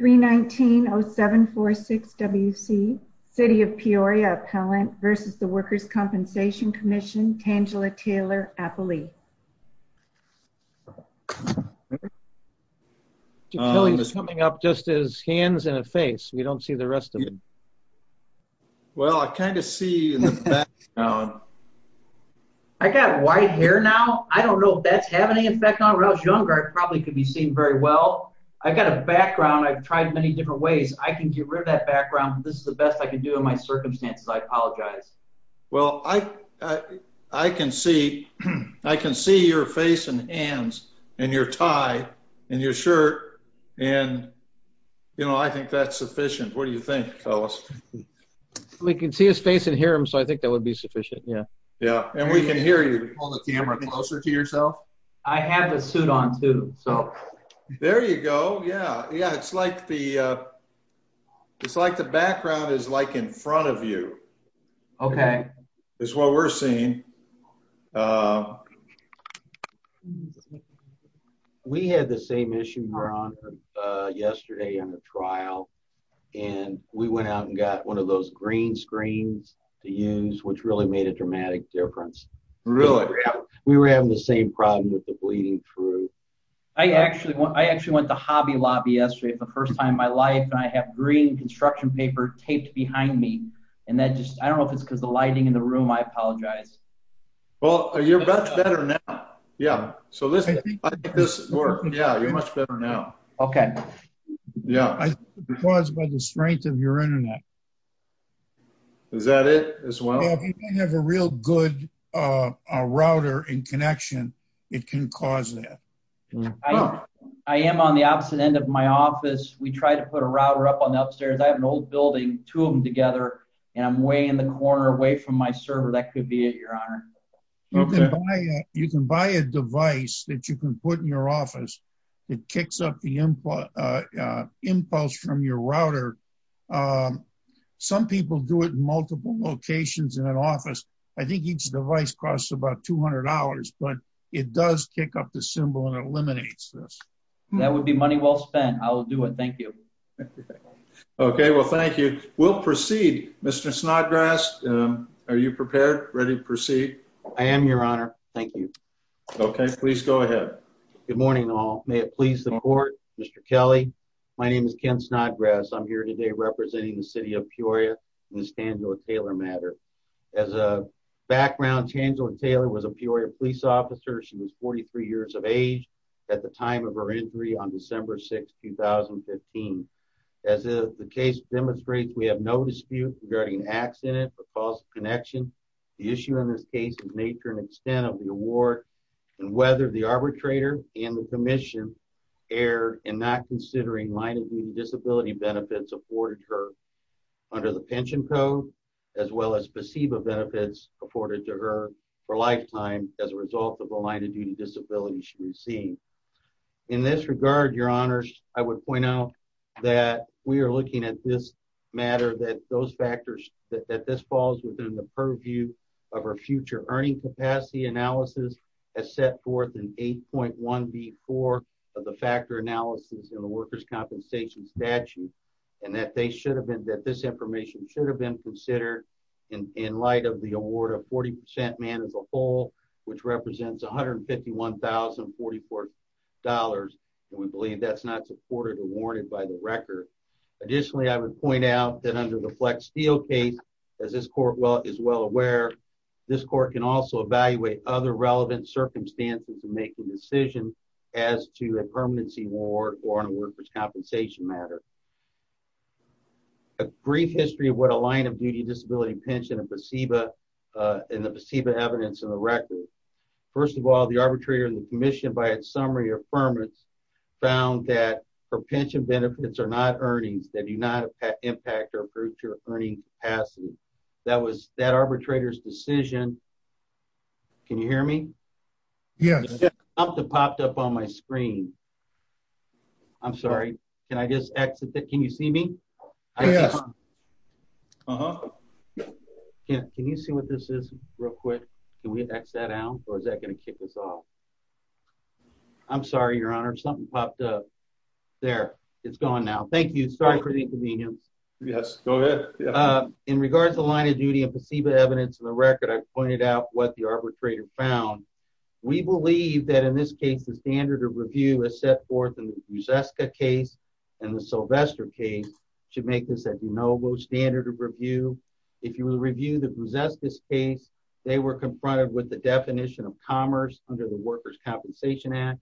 319-0746-WC City of Peoria Appellant v. The Workers' Compensation Commission Tangela Taylor-Appley. He's coming up just as hands and a face. We don't see the rest of him. Well I kind of see in the background. I got white hair now. I don't know if that's having any effect on me. When I was younger I probably could be seen very well. I've got a background. I've tried many different ways. I can get rid of that background. This is the best I can do in my circumstances. I apologize. Well I can see your face and hands and your tie and your shirt and I think that's sufficient. What do you think, fellas? We can see his face and hear him so I think that would be sufficient. And we can hear you. Can you hold the camera closer to yourself? I have the suit on too. There you go. It's like the background is in front of you. Okay. That's what we're seeing. We had the same issue, Ron, yesterday on a trial. And we went out and got one of those green screens to use which really made a dramatic difference. Really? We were having the same problem with the bleeding through. I actually went to Hobby Lobby yesterday for the first time in my life and I have green construction paper taped behind me. And I don't know if it's because of the lighting in the room. I apologize. Well, you're much better now. Yeah. So listen, I think this worked. Yeah, you're much better now. Okay. It was by the strength of your internet. Is that it as well? If you don't have a real good router and connection, it can cause that. I am on the opposite end of my office. We try to put a router up on the upstairs. I have an old building, two of them together. And I'm way in the corner away from my server. That could be it, Your Honor. You can buy a device that you can put in your office. It kicks up the impulse from your router. Some people do it in multiple locations in an office. I think each device costs about $200. But it does kick up the symbol and eliminates this. That would be money well spent. I will do it. Thank you. Okay. Well, thank you. We'll proceed. Mr. Snodgrass, are you prepared, ready to proceed? I am, Your Honor. Thank you. Okay. Please go ahead. Good morning, all. May it please the Court. Mr. Kelly, my name is Ken Snodgrass. I'm here today representing the City of Peoria in this Tangela Taylor matter. As a background, Tangela Taylor was a Peoria police officer. She was 43 years of age at the time of her injury on December 6, 2015. As the case demonstrates, we have no dispute regarding an accident or false connection. The issue in this case is the nature and extent of the award and whether the arbitrator and the commission erred in not considering line-of-duty disability benefits afforded to her under the pension code as well as PSEBA benefits afforded to her for a lifetime as a result of the line-of-duty disability she received. In this regard, Your Honors, I would point out that we are looking at this matter, that those factors, that this falls within the purview of our future earning capacity analysis as set forth in 8.1b.4 of the factor analysis in the workers' compensation statute, and that they should have been, that this information should have been considered in light of the award of 40% man as a whole, which represents $151,044. And we believe that's not supported or warranted by the record. Additionally, I would point out that under the Flex Steel case, as this Court is well aware, this Court can also evaluate other relevant circumstances in making decisions as to a permanency award or on a workers' compensation matter. A brief history of what a line-of-duty disability pension and PSEBA and the PSEBA evidence in the record. First of all, the arbitrator and the commission, by its summary of affirmance, found that her pension benefits are not earnings that do not impact her future earning capacity. That was that arbitrator's decision Can you hear me? Yes. Something popped up on my screen. I'm sorry. Can you see me? Yes. Uh-huh. Can you see what this is real quick? Can we X that out, or is that going to kick us off? I'm sorry, Your Honor. Something popped up. There. It's gone now. Thank you. Sorry for the inconvenience. Yes. Go ahead. In regards to the line-of-duty and PSEBA evidence in the record, I've pointed out what the arbitrator found. We believe that, in this case, the standard of review is set forth in the Brzeska case and the Sylvester case should make this a de novo standard of review. If you review the Brzeska case, they were confronted with the definition of commerce under the Workers' Compensation Act.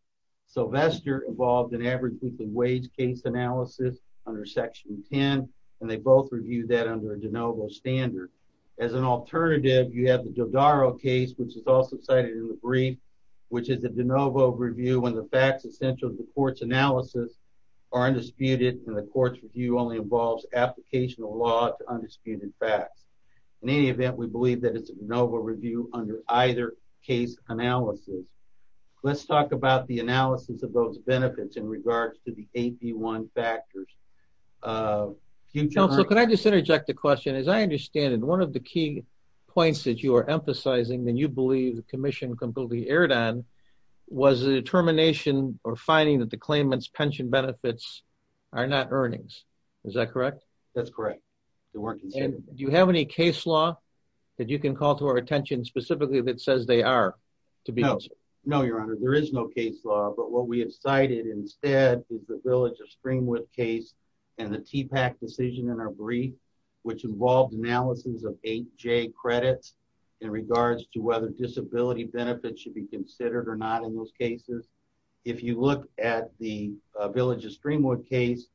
Sylvester involved an average weekly wage case analysis under Section 10 and they both reviewed that under a de novo standard. As an alternative, you have the Dodaro case, which is also cited in the brief, which is a de novo review when the facts essential to the court's analysis are undisputed and the court's review only involves application of law to undisputed facts. In any event, we believe that it's a de novo review under either case analysis. Let's talk about the analysis of those benefits in regards to the AP1 factors. Counsel, can I just interject a question? As I understand it, one of the key points that you are emphasizing that you believe the Commission completely erred on was the determination or finding that the claimant's pension benefits are not earnings. Is that correct? That's correct. Do you have any case law that you can call to our attention specifically that says they are? No, Your Honor. There is no case law, but what we have cited instead is the Village of Streamwood case and the TPAC decision in our brief which involved analysis of 8J credits in regards to whether disability benefits should be considered or not in those cases. If you look at the Village of Streamwood case,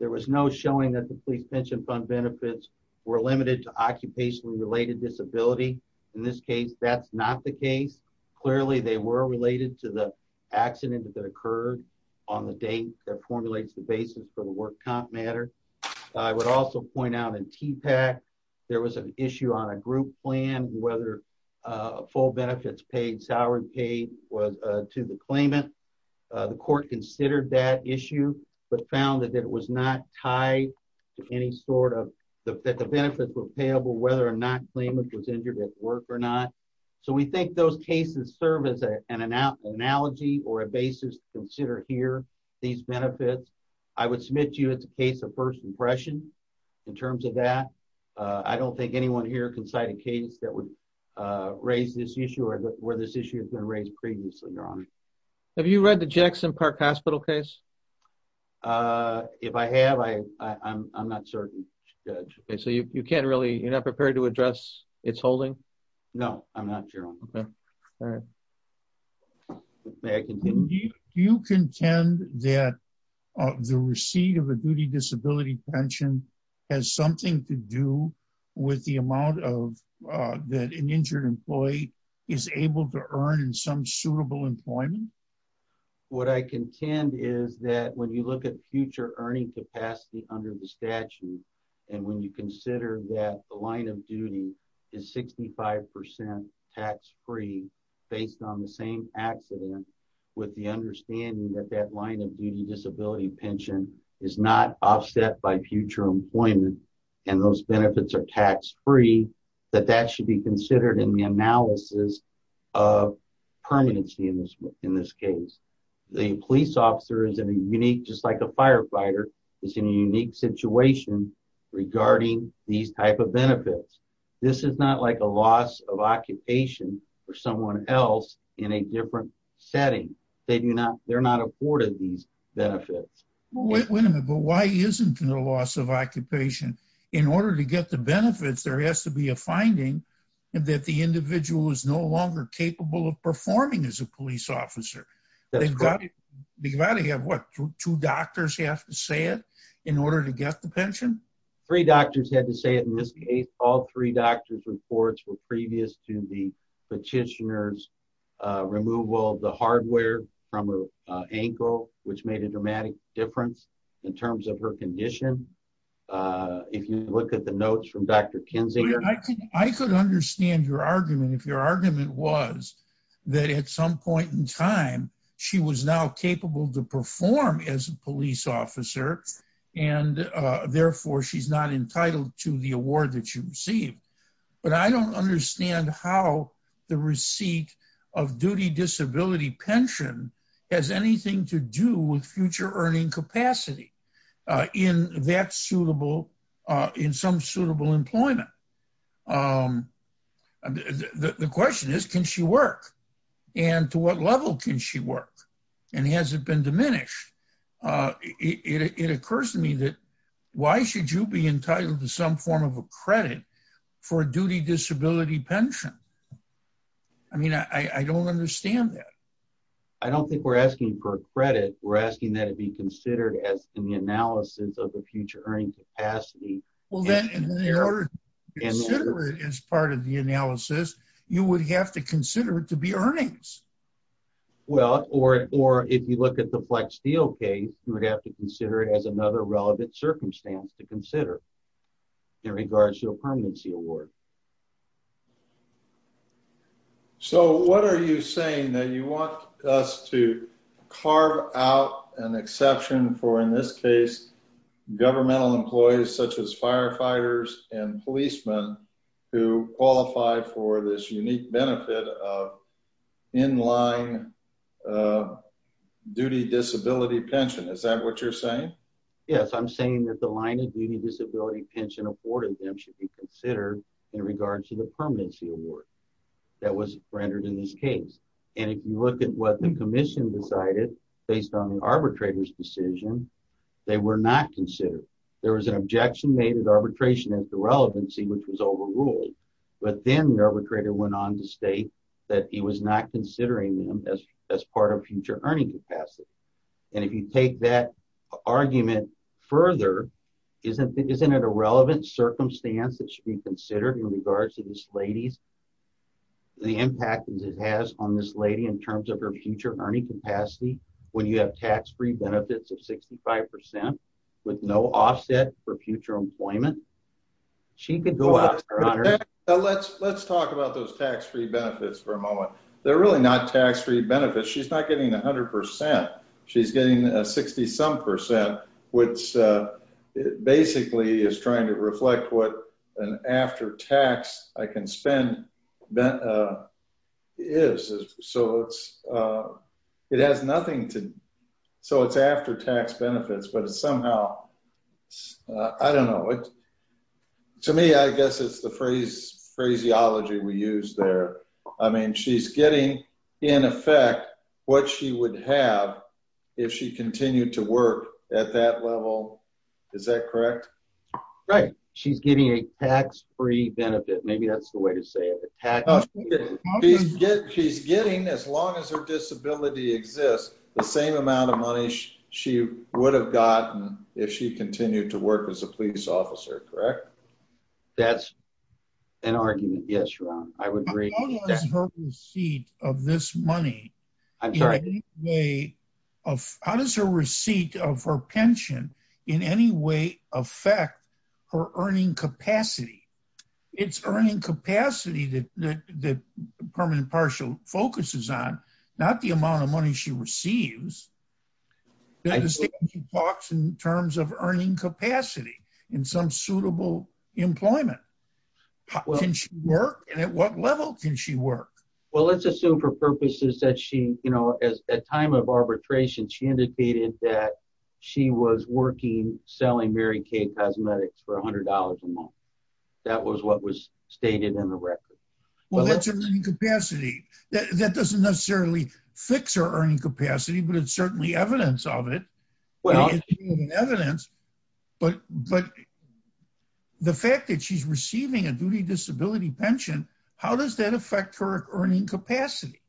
there was no showing that the Police Pension Fund benefits were limited to occupationally related disability. In this case, that's not the case. Clearly, they were related to the accident that occurred on the date that formulates the basis for the work comp matter. I would also point out in TPAC, there was an issue on a group plan whether full benefits paid, salary paid was to the claimant. The court considered that issue, but found that it was not tied to any sort of, that the benefits were payable whether or not the claimant was injured at work or not. So we think those cases serve as an analogy or a basis to consider here, these benefits. I would submit to you it's a case of first impression in terms of that. I don't think anyone here can cite a case that would raise this issue or where this issue has been raised previously, Your Honor. Have you read the Jackson Park Hospital case? If I have, I'm not certain, Judge. You're not prepared to address its holding? No, I'm not, Your Honor. Do you contend that the receipt of a duty disability pension has something to do with the amount that an injured employee is able to earn in some suitable employment? What I contend is that when you look at future earning capacity under the statute and when you consider that the line of duty is 65% tax-free based on the same accident with the understanding that that line of duty disability pension is not offset by future employment and those benefits are tax-free, that that should be considered in the analysis of permanency in this case. The police officer is in a unique just like a firefighter is in a unique situation regarding these type of benefits. This is not like a loss of occupation for someone else in a different setting. They're not afforded these benefits. Wait a minute, but why isn't there a loss of occupation? In order to get the benefits, there has to be a finding that the individual is no longer capable of performing as a police officer. They've got to have, what, two doctors have to say it in order to get the pension? Three doctors had to say it in this case. All three doctors reports were previous to the petitioner's removal of the hardware from her ankle, which made a dramatic difference in terms of her condition. If you look at the notes from Dr. Kinzinger I could understand your argument if your argument was that at some point in time she was now capable to perform as a police officer and therefore she's not entitled to the award that you receive. But I don't understand how the receipt of duty disability pension has anything to do with future earning capacity in that suitable, in some suitable employment. The question is, can she work? And to what level can she work? And has it been diminished? It occurs to me that why should you be entitled to some form of a credit for a duty disability pension? I mean, I don't understand that. I don't think we're asking for credit. We're asking that it be considered as in the analysis of the future earning capacity. Well then, in order to consider it as part of the analysis, you would have to consider it to be earnings. Well, or if you look at the Flex Steel case, you would have to consider it as another relevant circumstance to consider in regards to a permanency award. So what are you saying? That you want us to carve out an exception for in this case, governmental employees such as firefighters and policemen who qualify for this unique benefit of in-line duty disability pension. Is that what you're saying? Yes, I'm saying that the line of duty disability pension awarded them should be considered in regards to the permanency award that was rendered in this case. And if you look at what the commission decided, based on the arbitrator's decision, they were not considered. There was an objection made at arbitration at the relevancy, which was overruled. But then the arbitrator went on to state that he was not considering them as part of future earning capacity. And if you take that argument further, isn't it a relevant circumstance that should be considered in regards to this lady's impact on this lady in terms of her future earning capacity when you have tax-free benefits of 65% with no offset for future employment? Let's talk about those tax-free benefits for a moment. They're really not tax-free benefits. She's not getting 100%. She's getting 60-some percent, which basically is trying to reflect what an after-tax I can spend is. So it has nothing to... So it's after-tax benefits, but it's somehow... I don't know. To me, I guess it's the phraseology we use there. I mean, she's getting in effect what she would have if she continued to work at that level. Is that correct? Right. She's getting a tax-free benefit. Maybe that's the way to say it. She's getting, as long as her disability exists, the same amount of money she would have gotten if she continued to work as a police officer, correct? That's an argument. Yes, Ron. I would agree. How does her receipt of this money... I'm sorry? How does her receipt of her pension in any way affect her earning capacity? It's earning capacity that Permanent and Partial focuses on, not the amount of money she receives. She talks in terms of earning capacity in some suitable employment. Can she work, and at what level can she work? Well, let's assume for purposes that she... At time of arbitration, she indicated that she was working selling Mary Kay cosmetics for $100 a month. That was what was stated in the record. Well, that's her earning capacity. That doesn't necessarily fix her earning capacity, but it's certainly evidence of it. Evidence, but the fact that she's receiving a duty disability pension, how does that affect her earning capacity?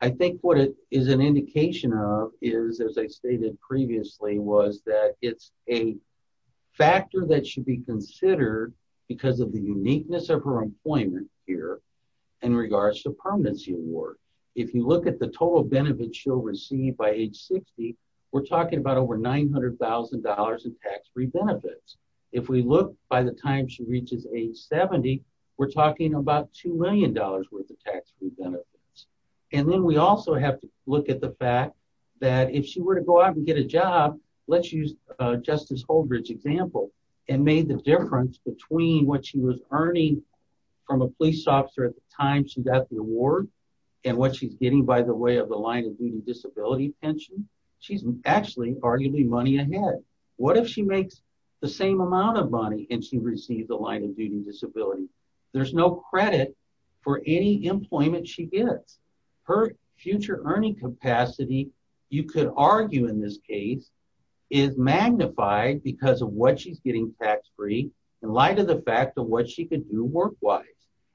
I think what it is an indication of is, as I stated previously, was that it's a factor that should be considered because of the uniqueness of her employment here in regards to Permanency Award. If you look at the total benefit she'll receive by age 60, we're talking about over $900,000 in tax-free benefits. If we look by the time she reaches age 70, we're talking about $2 million worth of tax-free benefits. And then we also have to look at the fact that if she were to go out and get a job, let's use Justice Holdridge's example, and made the difference between what she was earning from a police officer at the time she got the award and what she's getting by the way of the line of duty disability pension, she's actually arguably money ahead. What if she makes the same amount of money and she receives a line of duty disability? There's no credit for any employment she gets. Her future earning capacity, you could argue in this case, is magnified because of what she's getting tax-free in light of the fact of what she could do work-wise.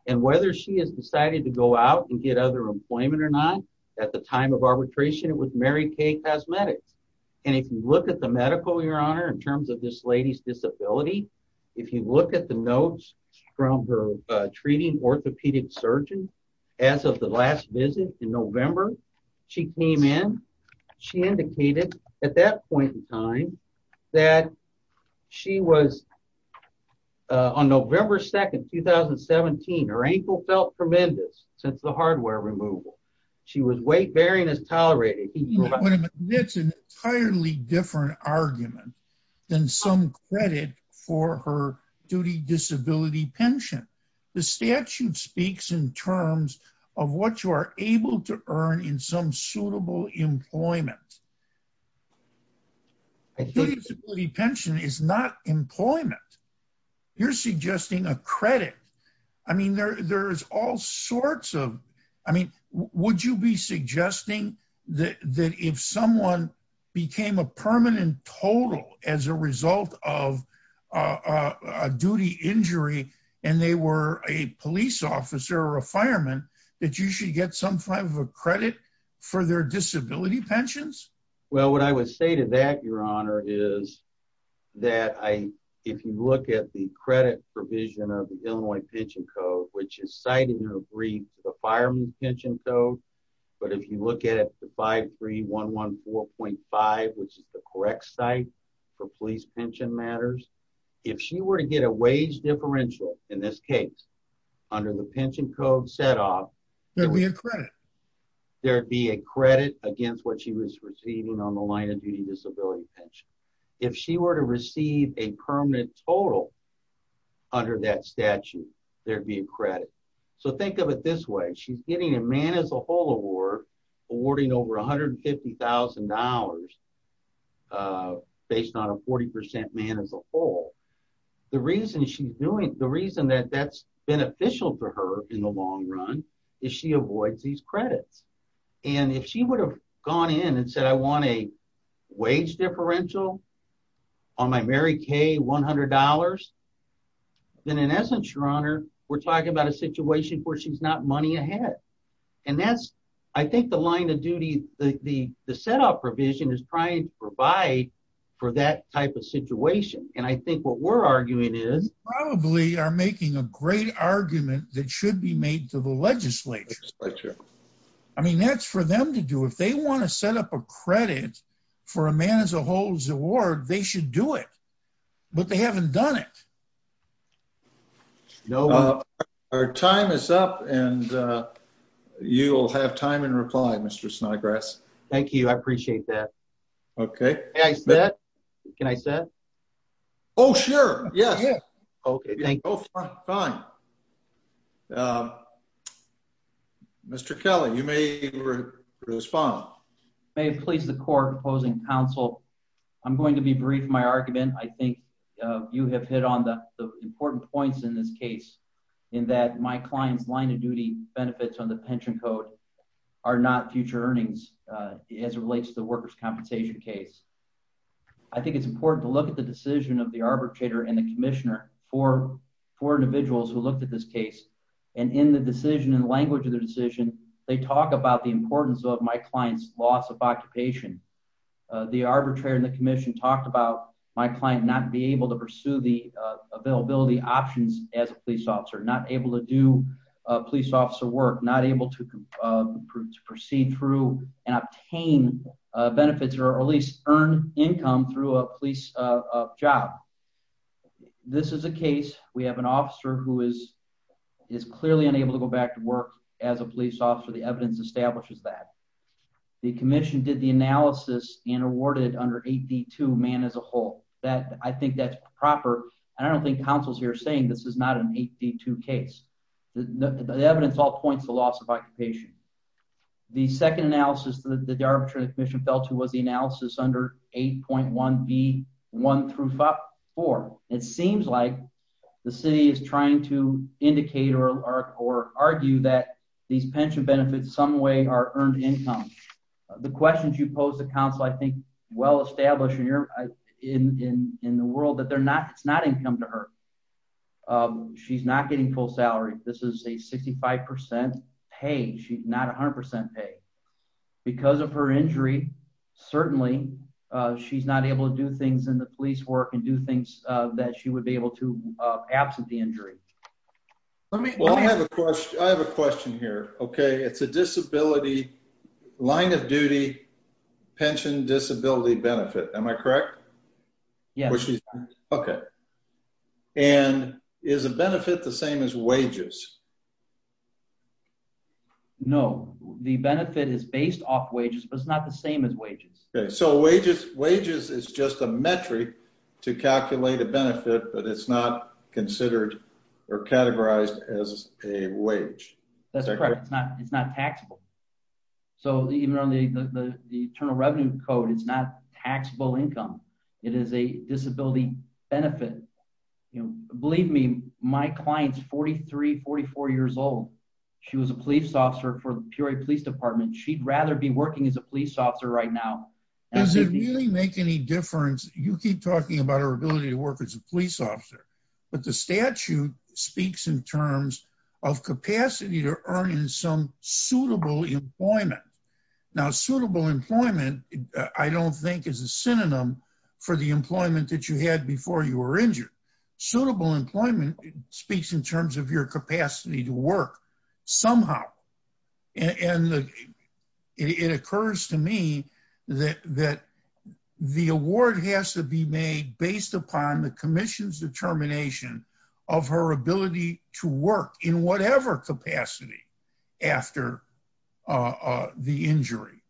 And whether she has decided to go out and get other employment or not, at the time of arbitration, it was Mary Kay Cosmetics. And if you look at the medical, Your Honor, in terms of this lady's disability, if you look at the notes from her treating orthopedic surgeon, as of the last visit in November, she came in, she indicated at that point in time that she was on November 2, 2017. Her ankle felt tremendous since the hardware removal. She was weight-bearing as tolerated. It's an entirely different argument than some credit for her duty disability pension. The statute speaks in terms of what you are able to earn in some suitable employment. The disability pension is not employment. You're suggesting a credit. I mean, there's all sorts of, I mean, would you be suggesting that if someone became a permanent total as a result of a duty injury and they were a police officer or a fireman, that you should get some kind of a credit for their disability pensions? Well, what I would say to that, Your Honor, is that if you look at the credit provision of the Illinois Pension Code, which is cited in her brief to the fireman's pension code, but if you look at the 53114.5, which is the correct site for police pension matters, if she were to get a wage differential, in this case, under the pension code set up, there'd be a credit. There'd be a credit against what she was receiving on the line of duty disability pension. If she were to receive a permanent total under that statute, there'd be a credit. So think of it this way. She's getting a man as a whole award, awarding over $150,000 based on a 40% man as a whole. The reason that that's beneficial to her in the long run is she avoids these credits. And if she would've gone in and said, I want a wage differential on my Mary Kay $100, then in essence, Your Honor, we're talking about a situation where she's not money ahead. And that's, I think, the line of duty, the setup provision is trying to provide for that type of situation. And I think what we're arguing is... I mean, that's for them to do. If they want to set up a credit for a man as a whole's award, they should do it, but they haven't done it. Our time is up. And you'll have time in reply, Mr. Snodgrass. Thank you. I appreciate that. Can I say that? Oh, sure. Yes. Okay. Fine. Mr. Kelly, you may respond. May it please the court opposing counsel, I'm going to be brief in my argument. I think you have hit on the important points in this case in that my client's line of duty benefits on the pension code are not future earnings as it relates to the workers' compensation case. I think it's important to look at the decision of the arbitrator and the commissioner for individuals who looked at this case. And in the decision and language of the decision, they talk about the importance of my client's loss of occupation. The arbitrator and the commission talked about my client not be able to pursue the availability options as a police officer, not able to do police officer work, not able to proceed through and obtain benefits or at least earn income through a police job. This is a case. We have an officer who is clearly unable to go back to work as a police officer. The evidence establishes that. The commission did the analysis and awarded under 8D2 man as a whole. I think that's proper. I don't think counsel's here saying this is not an 8D2 case. The evidence all points to loss of occupation. The second analysis that the commission did was to look at the pension benefits. The pension benefits are under 8.1B1 through 5.4. It seems like the city is trying to indicate or argue that these pension benefits some way are earned income. The questions you pose to counsel, I think well established in the world that it's not income to her. She's not getting full salary. This is a 65% pay. She's not 100% pay. Because of her injury, certainly she's not able to do things in the police work and do things that she would be able to absent the injury. I have a question here. It's a disability line of duty pension disability benefit. Am I correct? Yes. Okay. And is a benefit the same as wages? No. The benefit is based off wages, but it's not the same as wages. So wages is just a metric to calculate a benefit, but it's not considered or categorized as a wage. That's correct. It's not taxable. So even on the Internal Revenue Code, it's not a disability benefit. Believe me, my client's 43, 44 years old. She was a police officer for the Peoria Police Department. She'd rather be working as a police officer right now. Does it really make any difference? You keep talking about her ability to work as a police officer, but the statute speaks in terms of capacity to earn in some suitable employment. Now suitable employment, I don't think is a synonym for the employment that you had before you were injured. Suitable employment speaks in terms of your capacity to work somehow. And it occurs to me that the award has to be made based upon the commission's determination after the injury.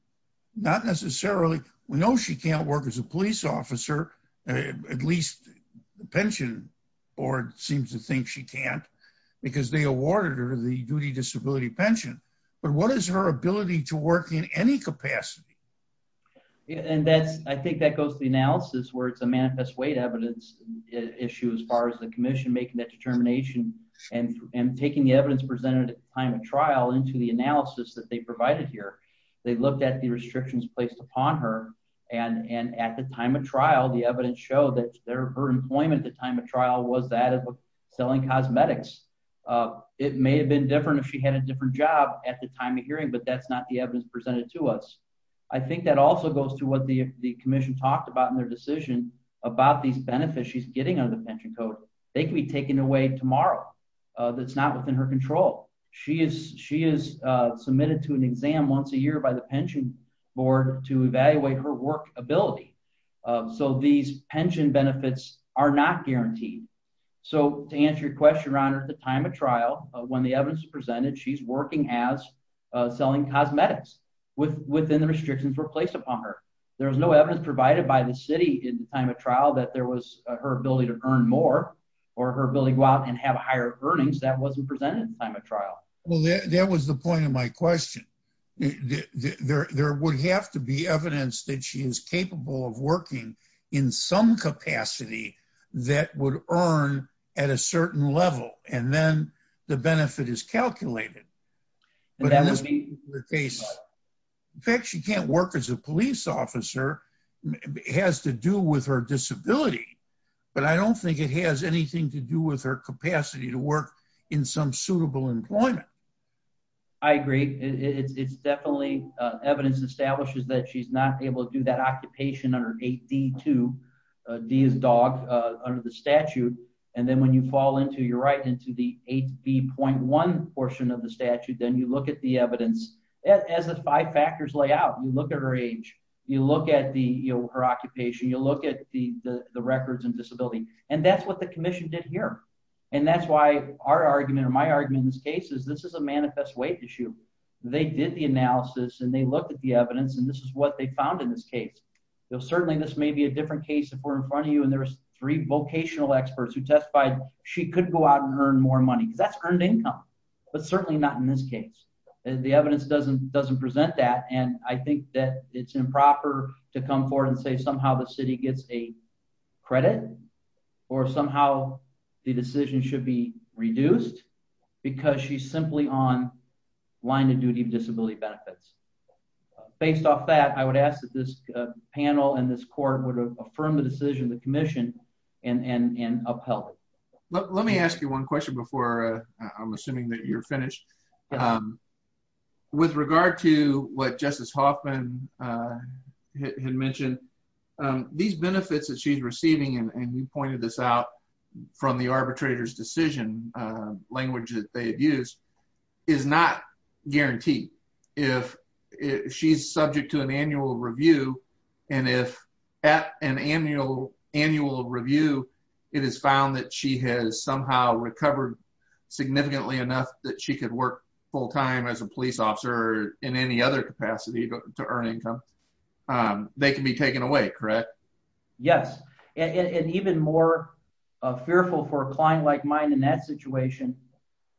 Not necessarily. We know she can't work as a police officer. At least the pension board seems to think she can't because they awarded her the duty disability pension. But what is her ability to work in any capacity? I think that goes to the analysis where it's a manifest weight evidence issue as far as the commission making that determination I think that goes to the analysis that they provided here. They looked at the restrictions placed upon her and at the time of trial, the evidence showed that her employment at the time of trial was that of selling cosmetics. It may have been different if she had a different job at the time of hearing, but that's not the evidence presented to us. I think that also goes to what the commission talked about in their decision about these benefits she's getting out of the pension code. They can be taken away tomorrow. That's not within her control. She is submitted to an exam once a year by the pension board to evaluate her work ability. So these pension benefits are not guaranteed. So to answer your question, Your Honor, at the time of trial, when the evidence was presented, she's working as selling cosmetics within the restrictions were placed upon her. There was no evidence provided by the city at the time of trial that there was her ability to earn more or her ability to go out and have higher earnings. That wasn't presented at the time of trial. Well, that was the point of my question. There would have to be evidence that she is capable of working in some capacity that would earn at a certain level and then the benefit is calculated. In fact, she can't work as a police officer. It has to do with her disability, but I don't think it has anything to do with her capacity to work in some suitable employment. I agree. It's definitely evidence establishes that she's not able to do that occupation under 8D2. D is dog under the statute. And then when you fall into, you're right, into the 8B.1 portion of the statute, then you look at the evidence as the five factors lay out. You look at her age. You look at her occupation. You look at the records and disability. And that's what the commission did here. And that's why our argument or my argument in this case is this is a manifest weight issue. They did the analysis and they looked at the evidence and this is what they found in this case. Certainly, this may be a different case if we're in front of you and there's three vocational experts who testified she could go out and earn more money because that's earned income. But certainly not in this case. The evidence doesn't present that and I think that it's improper to come forward and say somehow the city gets a credit or somehow the decision should be reduced because she's simply on line of duty of disability benefits. Based off that, I would ask that this panel and this court would affirm the decision of the commission and upheld it. Let me ask you one question before I'm assuming that you're finished. With regard to what Justice Hoffman had mentioned, these benefits that she's receiving and you pointed this out from the arbitrator's decision language that they have used is not guaranteed if she's subject to an annual review and if at an annual review it is found that she has somehow recovered significantly enough that she could work full time as a police officer or in any other capacity to earn income, they can be taken away, correct? Yes. And even more fearful for a client like mine in that situation,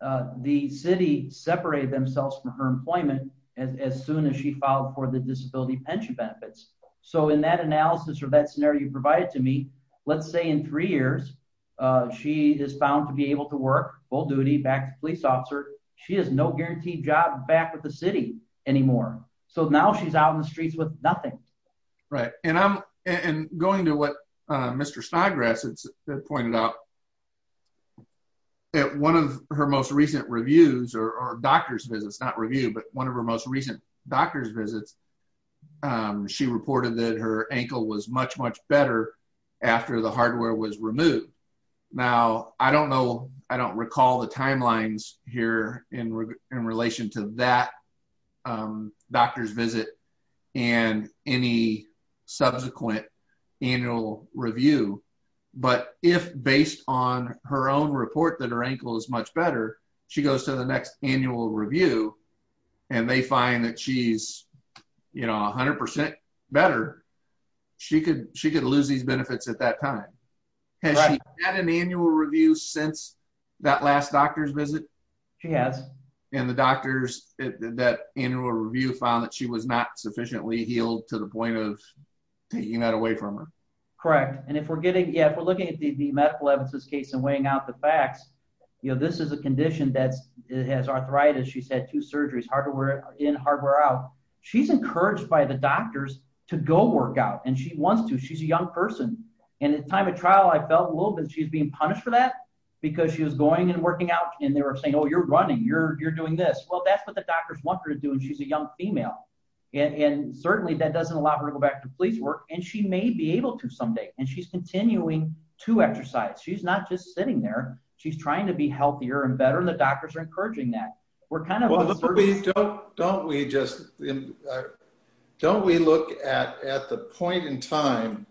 the city separated themselves from her employment as soon as she filed for the disability pension benefits. So in that analysis or that scenario you provided to me, let's say in three years she is found to be able to work full duty back as a police officer. She has no guaranteed job back with the city anymore. So now she's out in the streets with nothing. Right. And going to what Mr. Snodgrass pointed out, at one of her most recent reviews or doctor's visits, not review, but one of her most recent doctor's visits, she reported that her ankle was much, much better after the hardware was removed. Now, I don't know, I don't recall the timelines here in relation to that doctor's visit and any subsequent annual review, but if based on her own report that her ankle is much better, she goes to the next annual review and they find that she's 100% better, she could lose these benefits at that time. Has she had an annual review since that last doctor's visit? She has. And the doctors, that annual review found that she was not sufficiently healed to the point of taking that away from her. Correct. And if we're looking at the medical evidence case and weighing out the facts, this is a condition that has arthritis, she's had two surgeries, hardware in, hardware out. She's encouraged by the doctors to go work out and she wants to. She's a young person. And at the time of trial, I felt a little bit that she was being punished for that because she was going and working out and they were saying, oh, you're running, you're doing this. Well, that's what the doctors want her to do and she's a young female. And certainly, that doesn't allow her to go back to police work and she may be able to someday and she's continuing to exercise. She's not just sitting there, she's trying to be healthier and better and the doctors are encouraging that. Don't we just don't we look at the point in time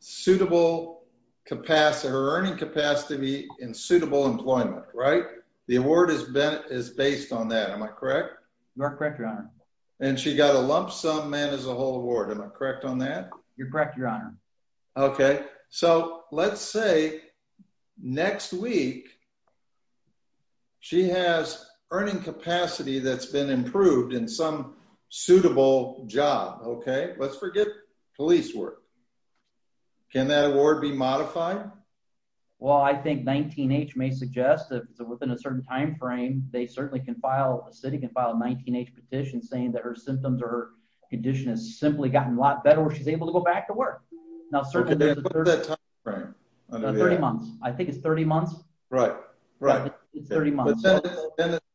suitable capacity, her earning capacity in suitable employment, right? The award is based on that. Am I correct? You're correct, your honor. And she got a lump sum man as a whole award. Am I correct on that? You're correct, your honor. Okay. So, let's say next week she has earning capacity that's been improved in some suitable job, okay? Let's forget police work. Can that award be modified? Well, I think 19-H may suggest that within a certain time frame, they certainly can file, a city can file a 19-H petition saying that her symptoms or her condition has simply gotten a lot better where she's able to go back to work. Now, certainly, there's a 30... What's that time frame? 30 months. I think it's 30 months. Right.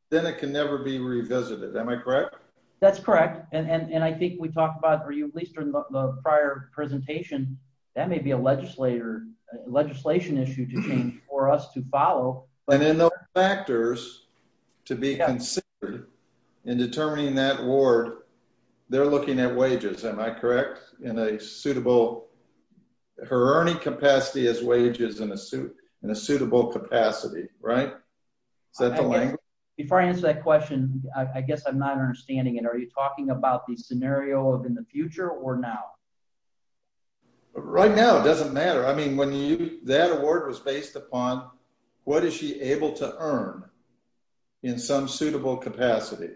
Then it can never be revisited. Am I correct? That's correct. And I think we talked about, or at least in the prior presentation, that may be a legislation issue for us to follow. And in those factors to be considered in determining that award, they're looking at wages. Am I correct? In a suitable Her earning capacity is wages in a suitable capacity, right? Is that the language? Before I answer that question, I guess I'm not understanding it. Are you talking about the scenario of in the future or now? Right now, it doesn't matter. I mean, that award was based upon what is she able to earn in some suitable capacity.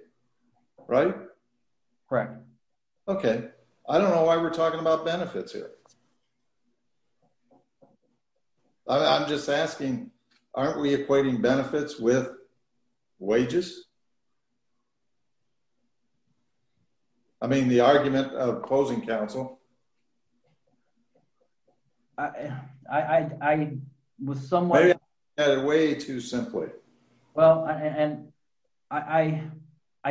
Right? Correct. Okay. I don't know why we're talking about benefits here. I'm just asking, aren't we equating benefits with wages? I mean, the argument of opposing counsel. I was somewhat... Way too simply. Well, I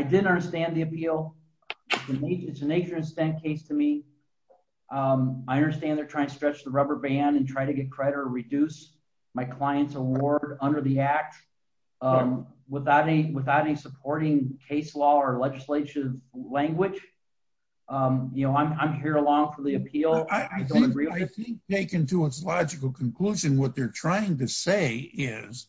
didn't understand the appeal. It's an Asian descent case to me. I understand they're trying to stretch the rubber band and try to get credit or reduce my client's award under the act without any supporting case law or legislative language. I'm here along for the appeal. I think taken to its logical conclusion, what they're trying to say is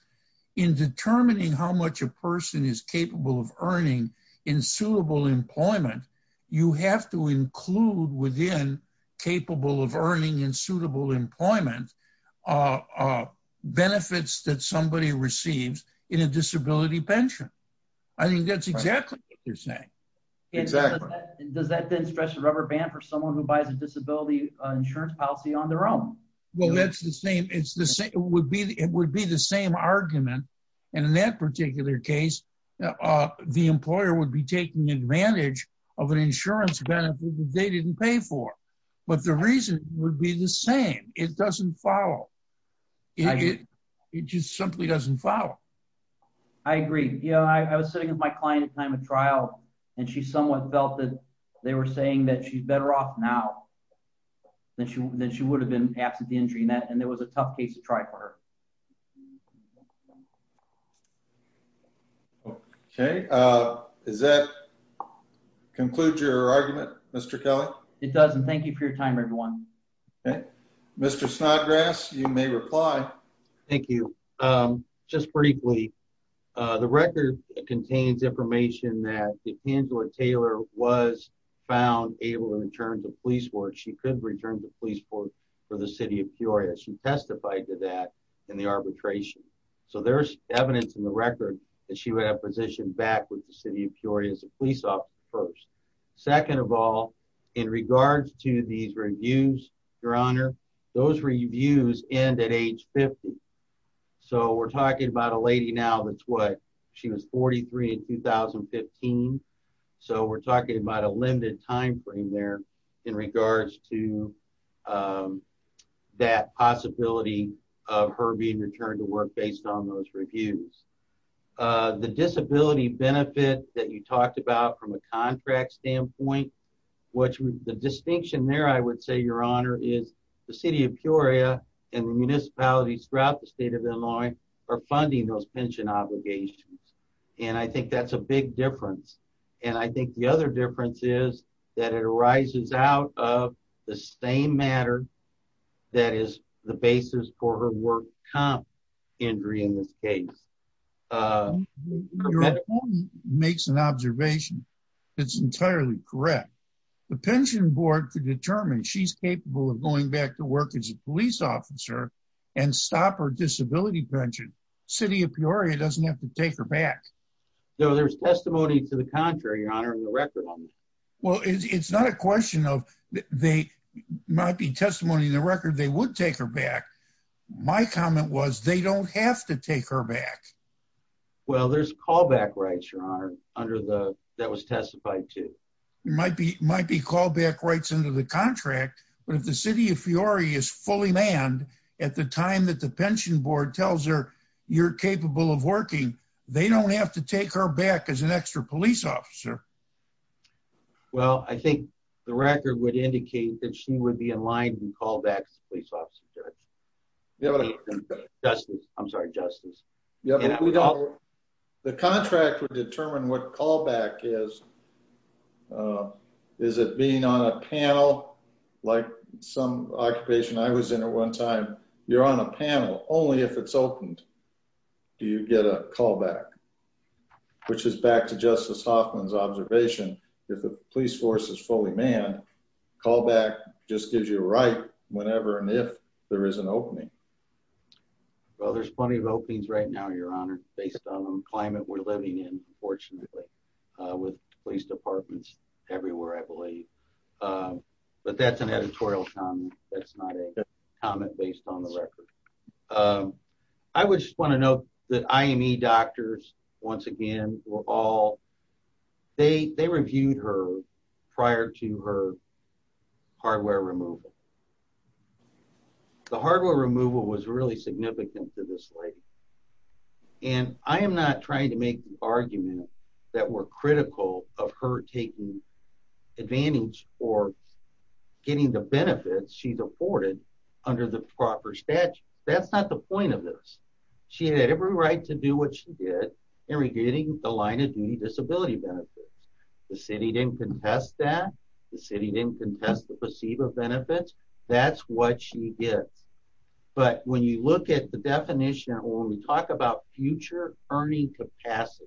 in determining how much a person is capable of earning in suitable employment, you have to include within capable of earning in suitable employment benefits that somebody receives in a disability pension. I think that's exactly what they're saying. Does that then stretch the rubber band for someone who buys a disability insurance policy on their own? It would be the same argument. In that particular case, the employer would be taking advantage of an insurance benefit that they didn't pay for. But the reason would be the same. It doesn't follow. It just simply doesn't follow. I agree. I was sitting with my client at the time of trial and she somewhat felt that they were saying that she's better off now than she would have been absent the injury. There was a tough case to try for her. Okay. Does that conclude your argument, Mr. Kelly? It doesn't. Thank you for your time, everyone. Mr. Snodgrass, you may reply. Thank you. Just briefly, the record contains information that if Angela Taylor was found able to return to the police force, she could return to the police force for the city of Peoria. She testified to that in the arbitration. So there's evidence in the record that she would have positioned back with the city of Peoria as a police officer first. Second of all, in regards to these reviews, Your Honor, those reviews end at age 50. So we're talking about a lady now that's what she was 43 in 2015. So we're talking about a limited time frame there in regards to that possibility of her being returned to work based on those reviews. The disability benefit that you talked about from a contract standpoint, the distinction there, I would say, Your Honor, is the city of Peoria and the municipalities throughout the state of Illinois are funding those pension obligations. And I think that's a big difference. And I think the other difference is that it arises out of the same matter that is the basis for her work comp injury in this case. Your opponent makes an observation that's entirely correct. The pension board could determine she's capable of going back to work as a police officer and stop her disability pension. The city of Peoria doesn't have to take her back. So there's testimony to the contrary, Your Honor, in the record. Well, it's not a question of they might be testimony in the record. They would take her back. My comment was they don't have to take her back. Well, there's callback rights, Your Honor, that was testified to. Might be callback rights under the contract. But if the city of Peoria is fully manned at the time that the pension board tells her you're capable of working, they don't have to take her back as an extra police officer. Well, I think the record would indicate that she would be in line to be called back as a police officer. Justice. I'm sorry, Justice. The contract would determine what callback is. Is it being on a panel like some occupation I was in at one time? You're on a panel. Only if it's opened do you get a callback. Which is back to Justice Hoffman's observation if the police force is fully manned, callback just gives you a right whenever and if there is an opening. Well, there's plenty of openings right now, Your Honor, based on the climate we're living in, fortunately, with police departments everywhere, I believe. But that's an editorial comment. That's not a comment based on the record. I would just like to note that IME doctors, once again, were all they reviewed her prior to her hardware removal. The hardware removal was really significant to this lady. And I am not trying to make the argument that we're critical of her taking advantage or getting the benefits she's afforded under the proper statute. That's not the point of this. She had every right to do what she did in regarding the line of duty disability benefits. The city didn't contest that. The city didn't contest the placebo benefits. That's what she gets. But when you look at the definition, when we talk about future earning capacity,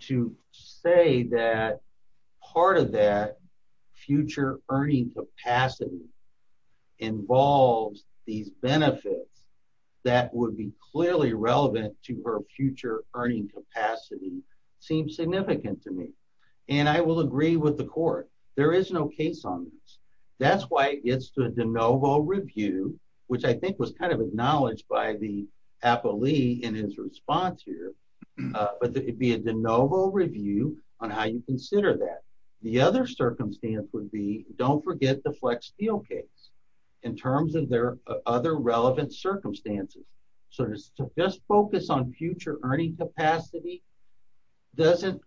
to say that part of that future earning capacity involves these benefits that would be clearly relevant to her future earning capacity seems significant to me. And I will agree with the court. There is no case on this. That's why it gets to a de novo review, which I think was kind of acknowledged by the appellee in his response here. But it would be a de novo review on how you consider that. The other circumstance would be don't forget the flex steel case in terms of their other relevant circumstances. So just focus on future earning capacity doesn't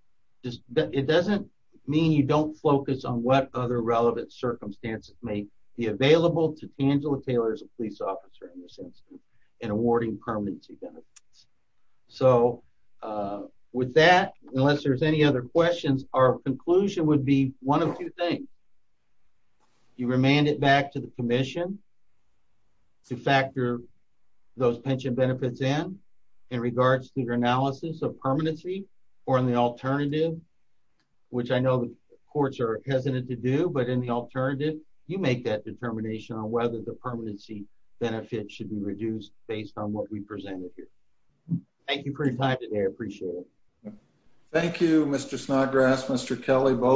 mean you don't focus on what other relevant circumstances may be available to Angela Taylor as a police officer in this instance in awarding permanency benefits. With that, unless there's any other questions, our conclusion would be one of two things. You remand it back to the commission to factor those pension benefits in in regards to your analysis of permanency or in the alternative, which I know the courts are hesitant to do. But in the alternative, you make that determination on whether the permanency benefit should be reduced based on what we presented here. Thank you for your time today. I appreciate it. Thank you, Mr. Snodgrass. Mr. Kelly, both.